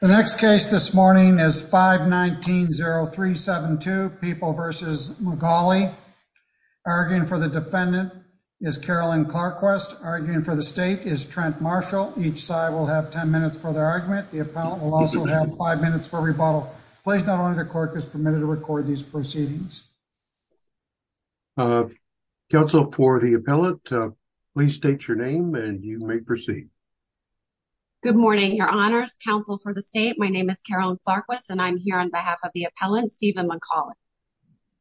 The next case this morning is 519-0372, People v. McGauley. Arguing for the defendant is Carolyn Clarkquist. Arguing for the state is Trent Marshall. Each side will have 10 minutes for their argument. The appellant will also have five minutes for rebuttal. Please note only the clerk is permitted to record these proceedings. Counsel for the appellant, please state your name and you may proceed. Good morning, Your Honors. Counsel for the state, my name is Carolyn Clarkquist and I'm here on behalf of the appellant, Stephen McGauley.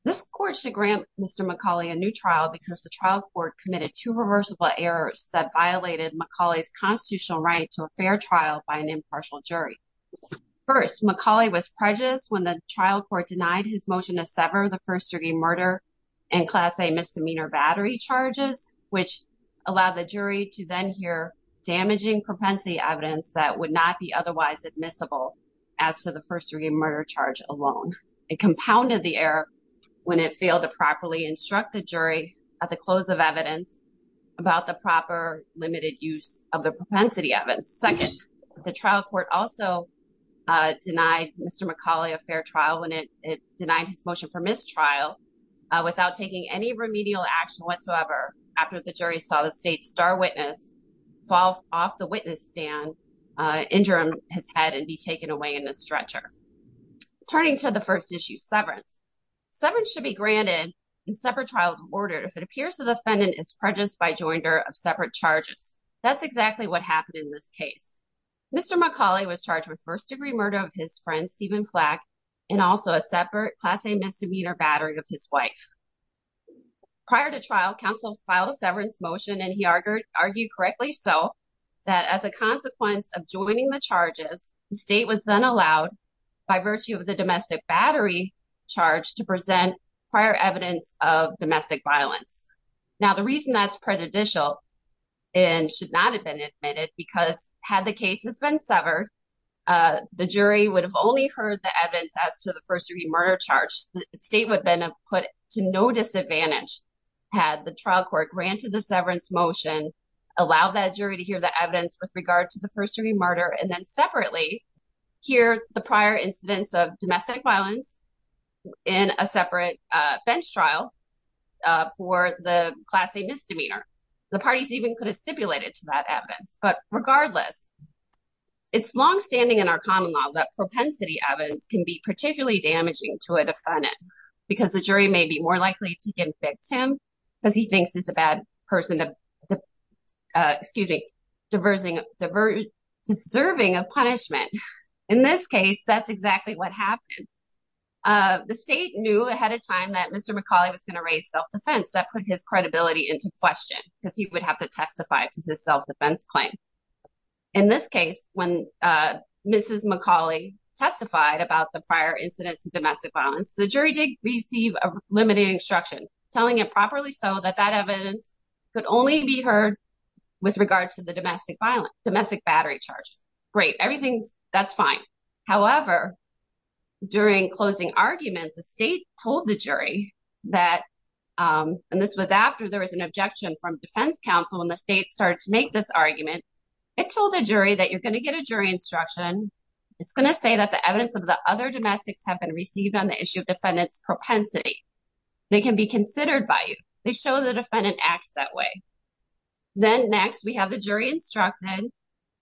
This court should grant Mr. McGauley a new trial because the trial court committed two reversible errors that violated McGauley's constitutional right to a fair trial by an impartial jury. First, McGauley was prejudiced when the trial court denied his motion to sever the first-degree murder and Class A misdemeanor battery charges, which allowed the jury to then hear damaging propensity evidence that would not be otherwise admissible as to the first-degree murder charge alone. It compounded the error when it failed to properly instruct the jury at the close of evidence about the proper limited use of the propensity evidence. Second, the trial court also denied Mr. McGauley a fair trial when it jury saw the state's star witness fall off the witness stand, injure his head and be taken away in a stretcher. Turning to the first issue, severance. Severance should be granted in separate trials of order if it appears the defendant is prejudiced by joinder of separate charges. That's exactly what happened in this case. Mr. McGauley was charged with first-degree murder of his friend, Stephen Flack, and also a separate Class A misdemeanor battery of his wife. Prior to trial, counsel filed a severance motion and he argued correctly so that as a consequence of joining the charges, the state was then allowed by virtue of the domestic battery charge to present prior evidence of domestic violence. Now, the reason that's prejudicial and should not have been admitted because had the case has been severed, the jury would have only heard the no disadvantage had the trial court granted the severance motion, allowed that jury to hear the evidence with regard to the first-degree murder, and then separately hear the prior incidents of domestic violence in a separate bench trial for the Class A misdemeanor. The parties even could have stipulated to that evidence. But regardless, it's long-standing in our common law that propensity evidence can be particularly damaging to a defendant because the jury may be more likely to convict him because he thinks he's a bad person to, excuse me, deserving of punishment. In this case, that's exactly what happened. The state knew ahead of time that Mr. McGauley was going to raise self-defense. That put his credibility into question because he would have to testify to his self-defense claim. In this case, when Mrs. McGauley testified about the prior incidents of domestic violence, the jury did receive a limited instruction telling it properly so that that evidence could only be heard with regard to the domestic battery charge. Great. Everything's, that's fine. However, during closing argument, the state told the jury that, and this was after there was an objection from defense counsel when the state started to make this argument, it told the jury that you're going to get a jury instruction. It's going to say that the evidence of the other domestics have been received on the issue of defendant's propensity. They can be considered by you. They show the defendant acts that way. Then next, we have the jury instructed.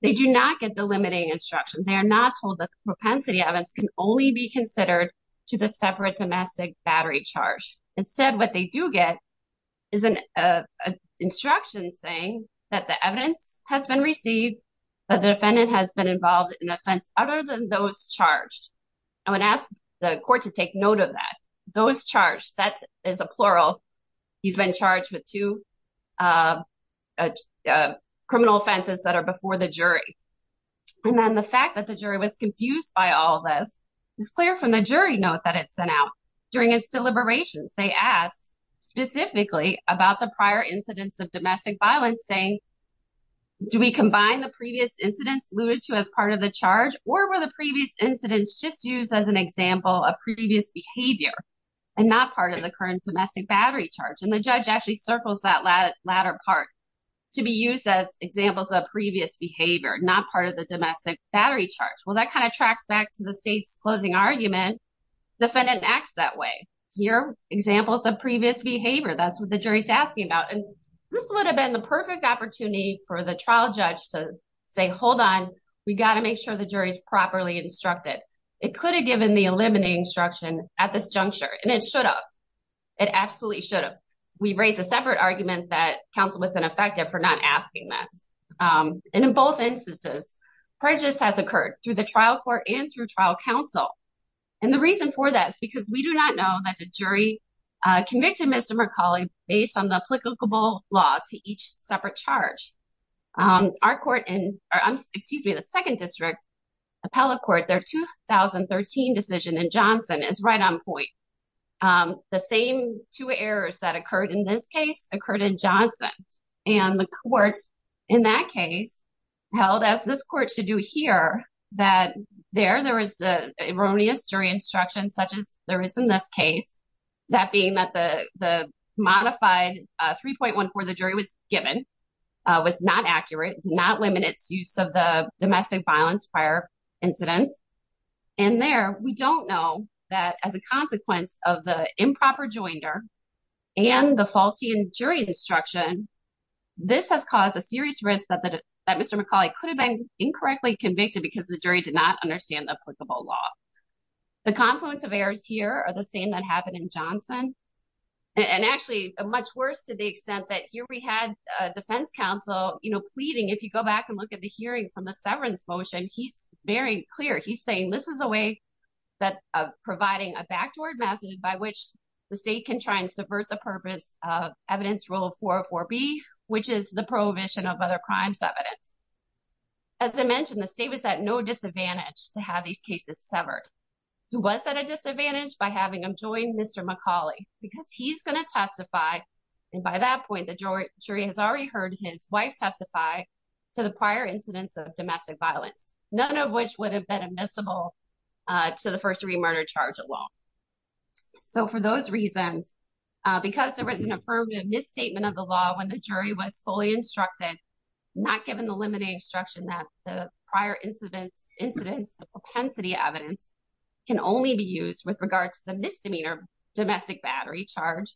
They do not get the limiting instruction. They are not told that propensity evidence can only be considered to the separate domestic battery charge. Instead, what they do get is an instruction saying that the evidence has been received, that the defendant has been involved in offense other than those charged. I would ask the court to take note of that. Those charged, that is a plural. He's been charged with two criminal offenses that are before the jury. Then the fact that the jury was confused by all of this is clear from the jury note that it sent out. During its deliberations, they asked specifically about the prior incidents of domestic violence saying, do we combine the previous incidents alluded to as part of the charge or were the previous incidents just used as an example of previous behavior and not part of the current domestic battery charge? The judge actually circles that latter part to be used as examples of previous behavior, not part of the domestic battery charge. Well, that kind of back to the state's closing argument, defendant acts that way. Here, examples of previous behavior, that's what the jury is asking about. This would have been the perfect opportunity for the trial judge to say, hold on, we got to make sure the jury is properly instructed. It could have given the eliminating instruction at this juncture, and it should have. It absolutely should have. We raised a separate argument that counsel was ineffective for not asking that. In both instances, prejudice has occurred through the trial court and through trial counsel. And the reason for that is because we do not know that the jury convicted Mr. McCauley based on the applicable law to each separate charge. Our court, excuse me, the second district appellate court, their 2013 decision in Johnson is right on point. The same two errors that occurred in this case occurred in Johnson. And the courts in that case held, as this court should do here, that there, there was an erroneous jury instruction, such as there is in this case, that being that the modified 3.14, the jury was given, was not accurate, did not limit its use of the domestic violence prior incidents. And there, we don't know that as a consequence of the improper joinder and the faulty jury instruction, this has caused a serious risk that Mr. McCauley could have been incorrectly convicted because the jury did not understand the applicable law. The confluence of errors here are the same that happened in Johnson. And actually, much worse to the extent that here we had a defense counsel pleading, if you go back and look at the hearing from the severance motion, he's very clear. He's saying, this is a way that providing a backdoor method by which the state can try and subvert the purpose of evidence rule 404B, which is the prohibition of other crimes evidence. As I mentioned, the state was at no disadvantage to have these cases severed. He was at a disadvantage by having him join Mr. McCauley because he's going to testify. And by that point, the jury has already heard his wife testify to the prior incidents of domestic violence, none of which would have been admissible to the first remurder charge alone. So for those reasons, because there was an affirmative misstatement of the law when the jury was fully instructed, not given the limiting instruction that the prior incidents of propensity evidence can only be used with regard to the misdemeanor domestic battery charge,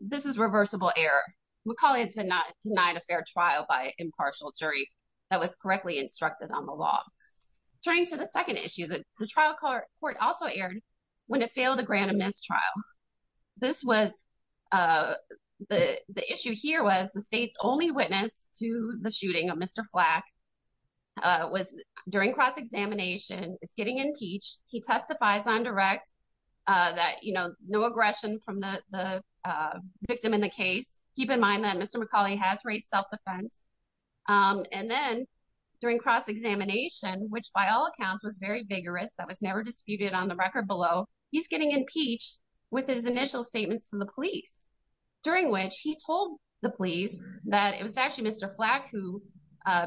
this is reversible error. McCauley has been denied a fair trial by the trial court also aired when it failed to grant a mistrial. The issue here was the state's only witness to the shooting of Mr. Flack was during cross-examination is getting impeached. He testifies on direct that no aggression from the victim in the case. Keep in mind that Mr. McCauley has raised self-defense. And then during cross-examination, which by all accounts was very vigorous, that was never disputed on the record below. He's getting impeached with his initial statements to the police during which he told the police that it was actually Mr. Flack who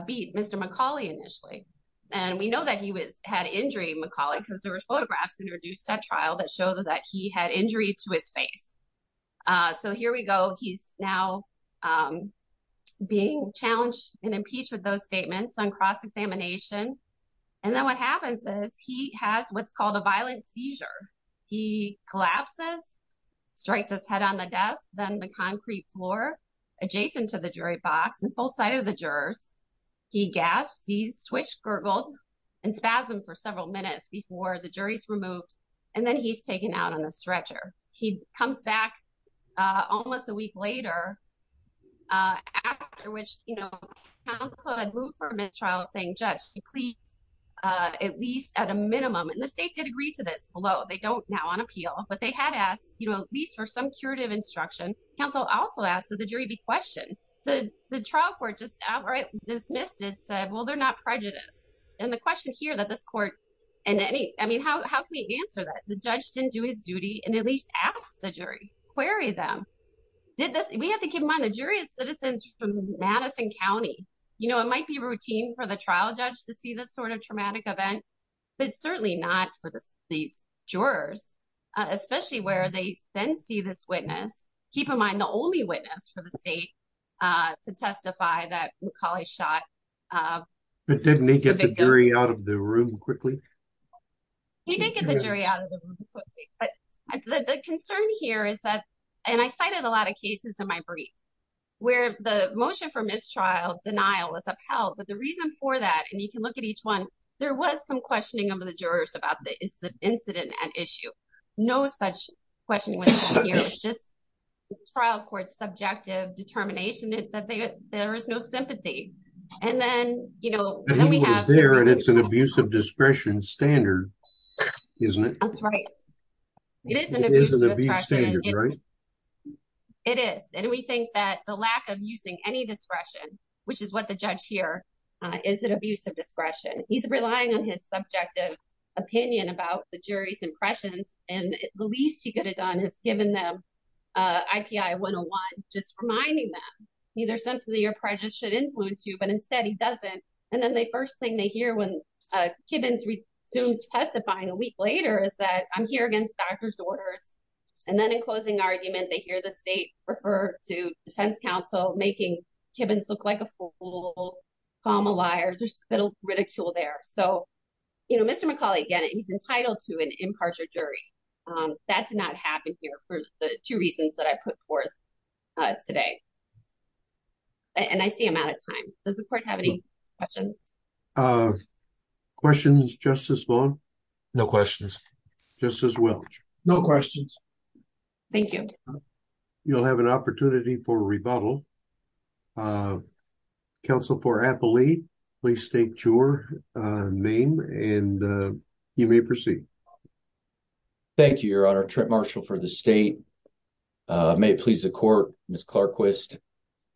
beat Mr. McCauley initially. And we know that he was had injury McCauley because there were photographs introduced at trial that show that he had injury to his face. So here we go. He's now being challenged and impeached with those statements on cross-examination. And then what happens is he has what's called a violent seizure. He collapses, strikes his head on the desk, then the concrete floor adjacent to the jury box and full sight of the jurors. He gasps, sees twitch, gurgled and spasm for several minutes before the jury's removed. And then he's taken out on a stretcher. He comes back almost a week later, after which, you know, counsel had moved for a mid-trial saying, Judge, please, at least at a minimum, and the state did agree to this, although they don't now on appeal, but they had asked, you know, at least for some curative instruction. Counsel also asked that the jury be questioned. The trial court just outright dismissed it, said, well, they're not prejudiced. And the question here that this court, and any, I mean, how can we answer that? The judge didn't do his duty and at least ask the jury, query them. Did this, we have to keep in mind the jury is citizens from Madison County. You know, it might be routine for the trial judge to see this sort of traumatic event, but certainly not for these jurors, especially where they then see this witness. Keep in mind the only witness for the state to testify that McCauley shot the victim. Can you get the jury out of the room quickly? You can get the jury out of the room quickly, but the concern here is that, and I cited a lot of cases in my brief where the motion for mistrial denial was upheld, but the reason for that, and you can look at each one, there was some questioning of the jurors about the incident and issue. No such question was here. It's just trial court's subjective determination that there is no sympathy. And then, you know, we have there and it's an abuse of discretion standard, isn't it? That's right. It is. And we think that the lack of using any discretion, which is what the judge here is an abuse of discretion. He's relying on his subjective opinion about the jury's impressions. And the least he could have done has given them IPI 101, just reminding them, neither sympathy or prejudice should influence you, but instead he doesn't. And then the first thing they hear when Kibbens resumes testifying a week later is that I'm here against doctor's orders. And then in closing argument, they hear the state refer to defense counsel, making Kibbens look like a fool, comma liars, there's a little ridicule there. So, you know, Mr. McCauley, again, he's entitled to an impartial jury. That did not happen here for the two reasons that I put forth today. And I see I'm out of time. Does the court have any questions? Questions, Justice Vaughn? No questions. Justice Welch? No questions. Thank you. You'll have an opportunity for rebuttal. Counsel for Applee, please state your name and you may proceed. Thank you, Your Honor. Trent Marshall for the state. May it please the court, Ms. Clarkquist,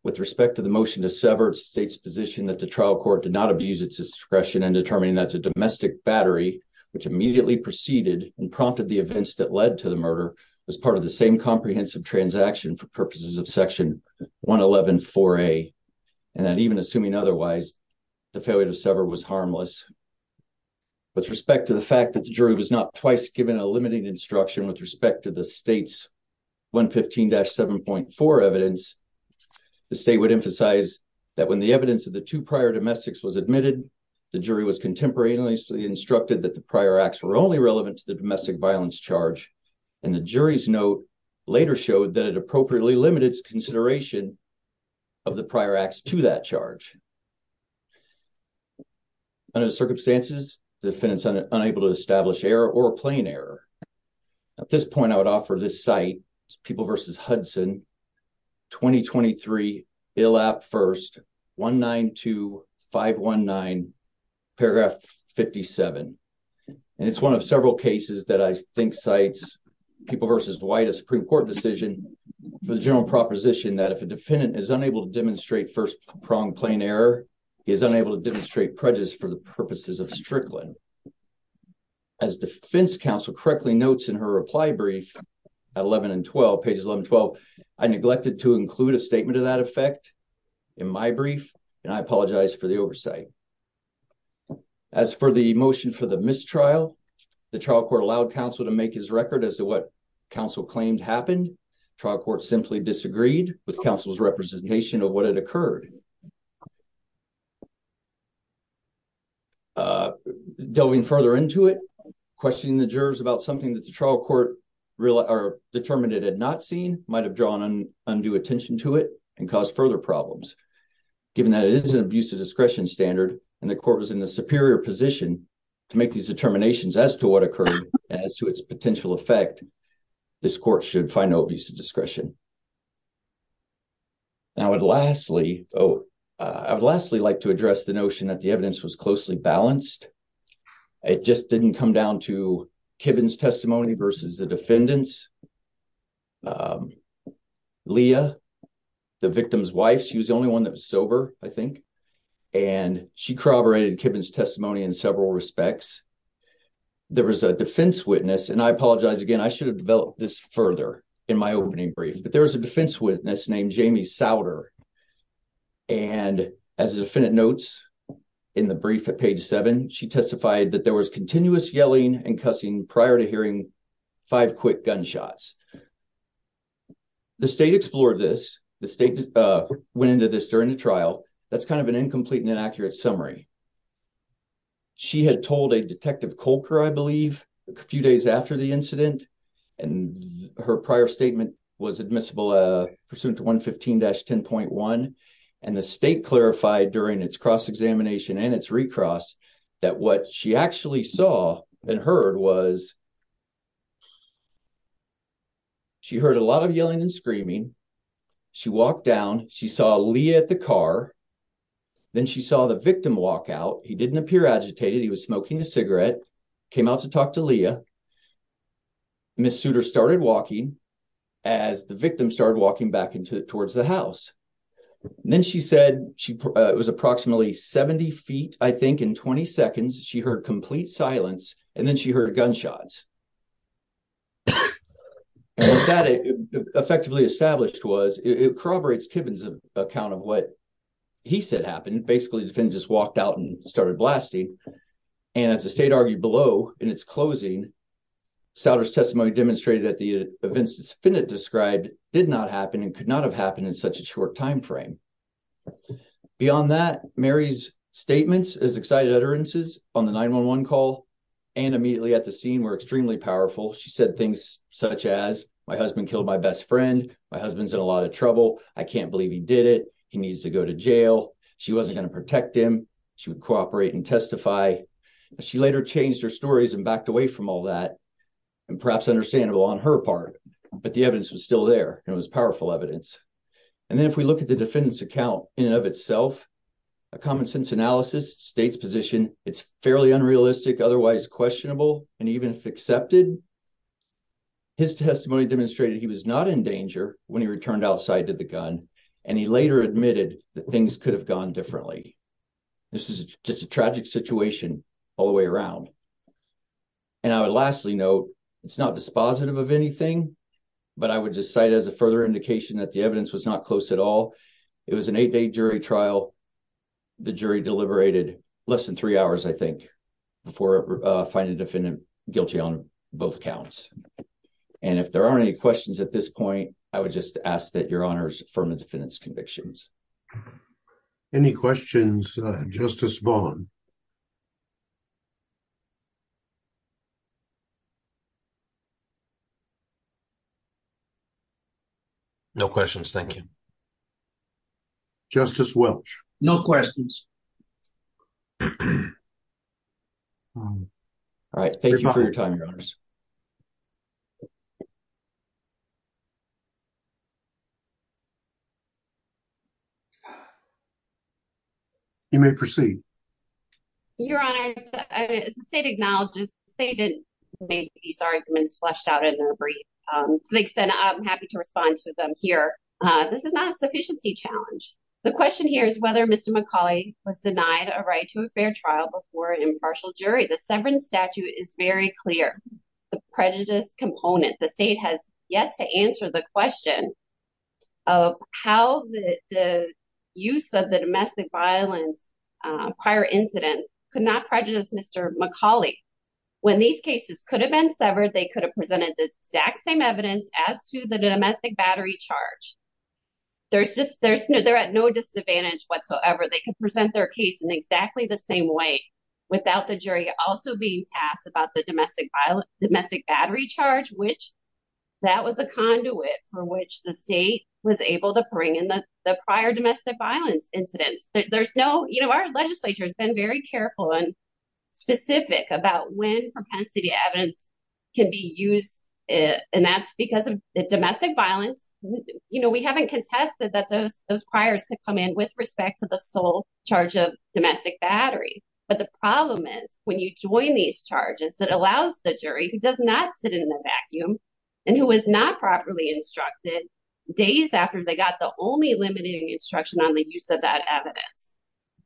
with respect to the motion to sever state's position that the trial court did not abuse its discretion in determining that the domestic battery, which immediately proceeded and prompted the events that led to the murder, was part of the same comprehensive transaction for purposes of section 111-4A, and that even assuming otherwise, the failure to sever was harmless. With respect to the fact that the jury was not twice given a limiting instruction with respect to the state's 115-7.4 evidence, the state would emphasize that when the evidence of the two prior domestics was admitted, the jury was contemporaneously instructed that the prior acts were only relevant to the domestic violence charge. And the jury's note later showed that it appropriately limited consideration of the prior acts to that charge. Under the circumstances, the defendant is unable to establish error or a plain error. At this point, I would offer this cite, People v. Hudson, 2023, ILAP 1st, 192519, paragraph 57. And it's one of several cases that I think cites People v. White, a Supreme Court decision, for the general proposition that if a defendant is unable to demonstrate first-pronged plain error, he is unable to demonstrate prejudice for the purposes of Strickland. As defense counsel correctly notes in her reply brief at 11 and 12, pages 11 and 12, I neglected to include a statement of that effect in my brief, and I apologize for the oversight. As for the motion for the mistrial, the trial court allowed counsel to make his record as to what counsel claimed happened. Trial court simply disagreed with counsel's representation of what occurred. Delving further into it, questioning the jurors about something that the trial court determined it had not seen might have drawn undue attention to it and caused further problems. Given that it is an abuse of discretion standard, and the court was in a superior position to make these determinations as to what occurred and as to its potential effect, this court should find no abuse of discretion. Now, I would lastly like to address the notion that the evidence was closely balanced. It just didn't come down to Kibben's testimony versus the defendant's. Leah, the victim's wife, she was the only one that was sober, I think, and she corroborated Kibben's testimony in several respects. There was a defense witness, and I apologize again, I should have developed this further in my opening brief, but there was a defense witness named Jamie Sauter, and as the defendant notes in the brief at page seven, she testified that there was continuous yelling and cussing prior to hearing five quick gunshots. The state explored this. The state went into this during the trial. That's kind of an incomplete and inaccurate summary. She had told a detective Kolker, I believe, a few days after the incident, and her prior statement was admissible pursuant to 115-10.1, and the state clarified during its cross-examination and its recross that what she actually saw and heard was she heard a lot of yelling and screaming. She walked down. She saw Leah at the car. Then she saw the victim walk out. He didn't appear agitated. He was smoking a cigarette, came out to talk to Leah. Ms. Sauter started walking as the victim started walking back towards the house. Then she said it was approximately 70 feet, I think, in 20 seconds, she heard complete silence, and then she heard gunshots. What that effectively established was, it corroborates Kibben's account of what he said happened. Basically, the defendant just in its closing, Sauter's testimony demonstrated that the events that Finnett described did not happen and could not have happened in such a short timeframe. Beyond that, Mary's statements as excited utterances on the 911 call and immediately at the scene were extremely powerful. She said things such as, my husband killed my best friend. My husband's in a lot of trouble. I can't believe he did it. He needs to go to jail. She wasn't going to protect him. She would cooperate and testify. She later changed her stories and backed away from all that, and perhaps understandable on her part, but the evidence was still there. It was powerful evidence. Then if we look at the defendant's account in and of itself, a common sense analysis, state's position, it's fairly unrealistic, otherwise questionable, and even if accepted, his testimony demonstrated he was not in danger when he returned outside to the gun, and he later admitted that things could have gone differently. This is just a tragic situation all the way around. I would lastly note, it's not dispositive of anything, but I would just cite as a further indication that the evidence was not close at all. It was an eight-day jury trial. The jury deliberated less than three hours, I think, before finding the defendant guilty on both counts. If there aren't any questions at this point, I would just ask that your honors affirm the defendant's convictions. Any questions, Justice Vaughn? No questions, thank you. Justice Welch? No questions. All right. Thank you for your time, your honors. You may proceed. Your honors, as the state acknowledges, the state didn't make these arguments fleshed out in their brief. To the extent, I'm happy to respond to them here. This is not a sufficiency challenge. The question here is whether Mr. McCauley was denied a right to a fair trial before an impartial jury. The severance statute is very clear. The prejudice component, the state has yet to answer the question of how the use of the domestic violence prior incidents could not prejudice Mr. McCauley. When these cases could have been severed, they could have presented the exact same evidence as to the domestic battery charge. They're at no disadvantage whatsoever. They can present their case in exactly the same way without the jury also being tasked about the domestic battery charge, which that was a conduit for which the state was able to bring in the prior domestic violence incidents. Our legislature has been very careful and specific about when propensity evidence can be used. That's because of the domestic violence. We haven't contested that those priors could come in with respect to the sole charge of domestic battery. But the problem is when you join these charges that allows the jury who does not sit in the vacuum and who is not properly instructed days after they got the only limiting instruction on the use of that evidence.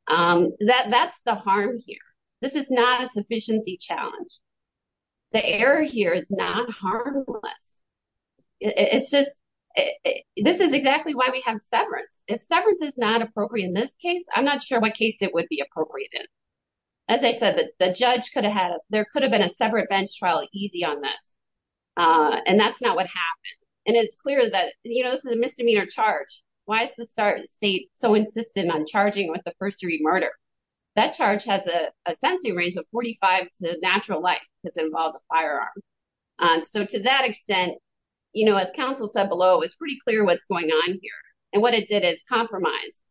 That's the harm here. This is not a sufficiency challenge. The error here is not harmless. This is exactly why we have severance. If severance is not appropriate in this case, I'm not sure what case it would be appropriate in. As I said, there could have been a separate bench trial easy on this, and that's not what happened. It's clear that this is a misdemeanor charge. Why is the state so insistent on charging with the first degree murder? That charge has a sentencing range of 45 to natural life because it involved a firearm. To that extent, as counsel said below, it's pretty clear what's going on here. What it did is compromise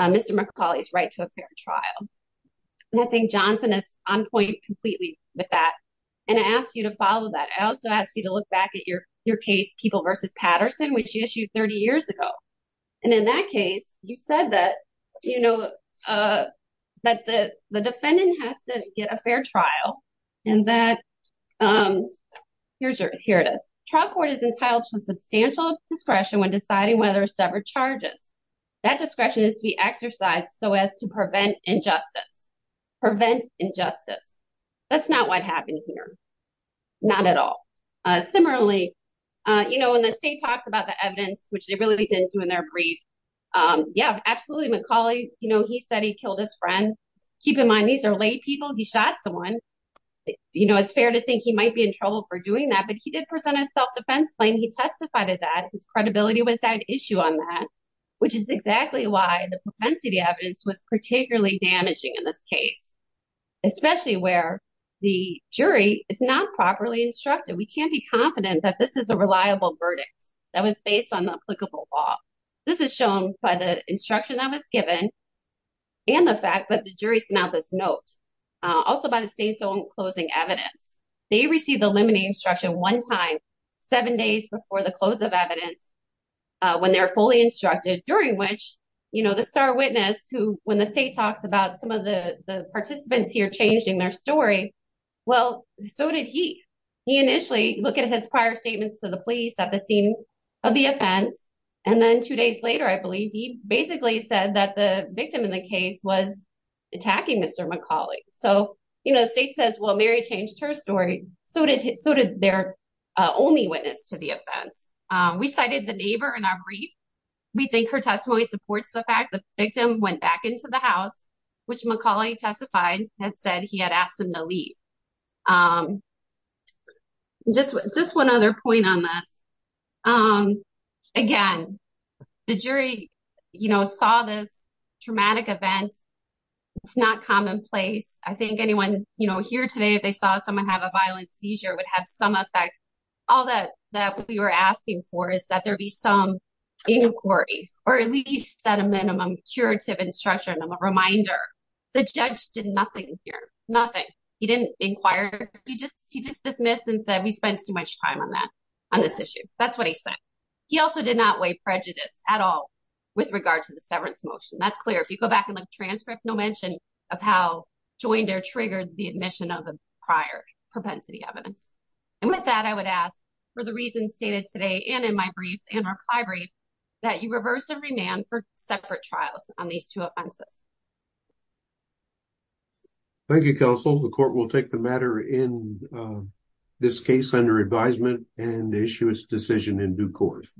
Mr. McCauley's right to a fair trial. I think Johnson is on point completely with that. I asked you to follow that. I also asked you to look back at your case, Keeble versus Patterson, which you issued 30 years ago. In that case, you said that the defendant has to get a fair trial. Here it is. Trial court is entitled to substantial discretion when deciding whether a severed charges. That discretion is to be exercised so as to prevent injustice. That's not what happened here. Not at all. Similarly, when the state talks about the evidence, which they really didn't do in their brief. Yeah, absolutely. McCauley, he said he killed his friend. Keep in mind, these are lay people. He shot someone. It's fair to think he might be in trouble for doing that, but he did present a self-defense claim. He testified that his credibility was an issue on that, which is exactly why the propensity evidence was particularly damaging in this case, especially where the jury is not properly instructed. We can't be confident that this is a reliable verdict that was based on applicable law. This is shown by the instruction that was given and the fact that the jury sent out this note, also by the state's own closing evidence. They received the limiting instruction one time, seven days before the close of evidence, when they're fully instructed, during which the star witness who, when the state talks about some of the participants here changing their story, well, so did he. He initially looked at his prior statements to the police at the scene of the offense, and then two days later, I believe, he basically said that the victim in the case was attacking Mr. McCauley. The state says, Mary changed her story, so did their only witness to the offense. We cited the neighbor in our brief. We think her testimony supports the fact that the victim went back into the house, which McCauley testified had said he had asked him to leave. Just one other point on this. Again, the jury saw this traumatic event. It's not commonplace. I think anyone here today, if they saw someone have a violent seizure, would have some effect. All that we were asking for is that there be some inquiry, or at least at a minimum, curative instruction, a reminder. The judge did nothing here, nothing. He didn't inquire. He just dismissed and said, he spent too much time on this issue. That's what he said. He also did not weigh prejudice at all with regard to the severance motion. That's clear. If you go back and look at the transcript, no mention of how joined or triggered the admission of the prior propensity evidence. With that, I would ask, for the reasons stated today and in my brief and our plenary, that you reverse and remand for separate trials on these two offenses. Thank you, counsel. The court will take the matter in this case under advisement and issue its decision in due course.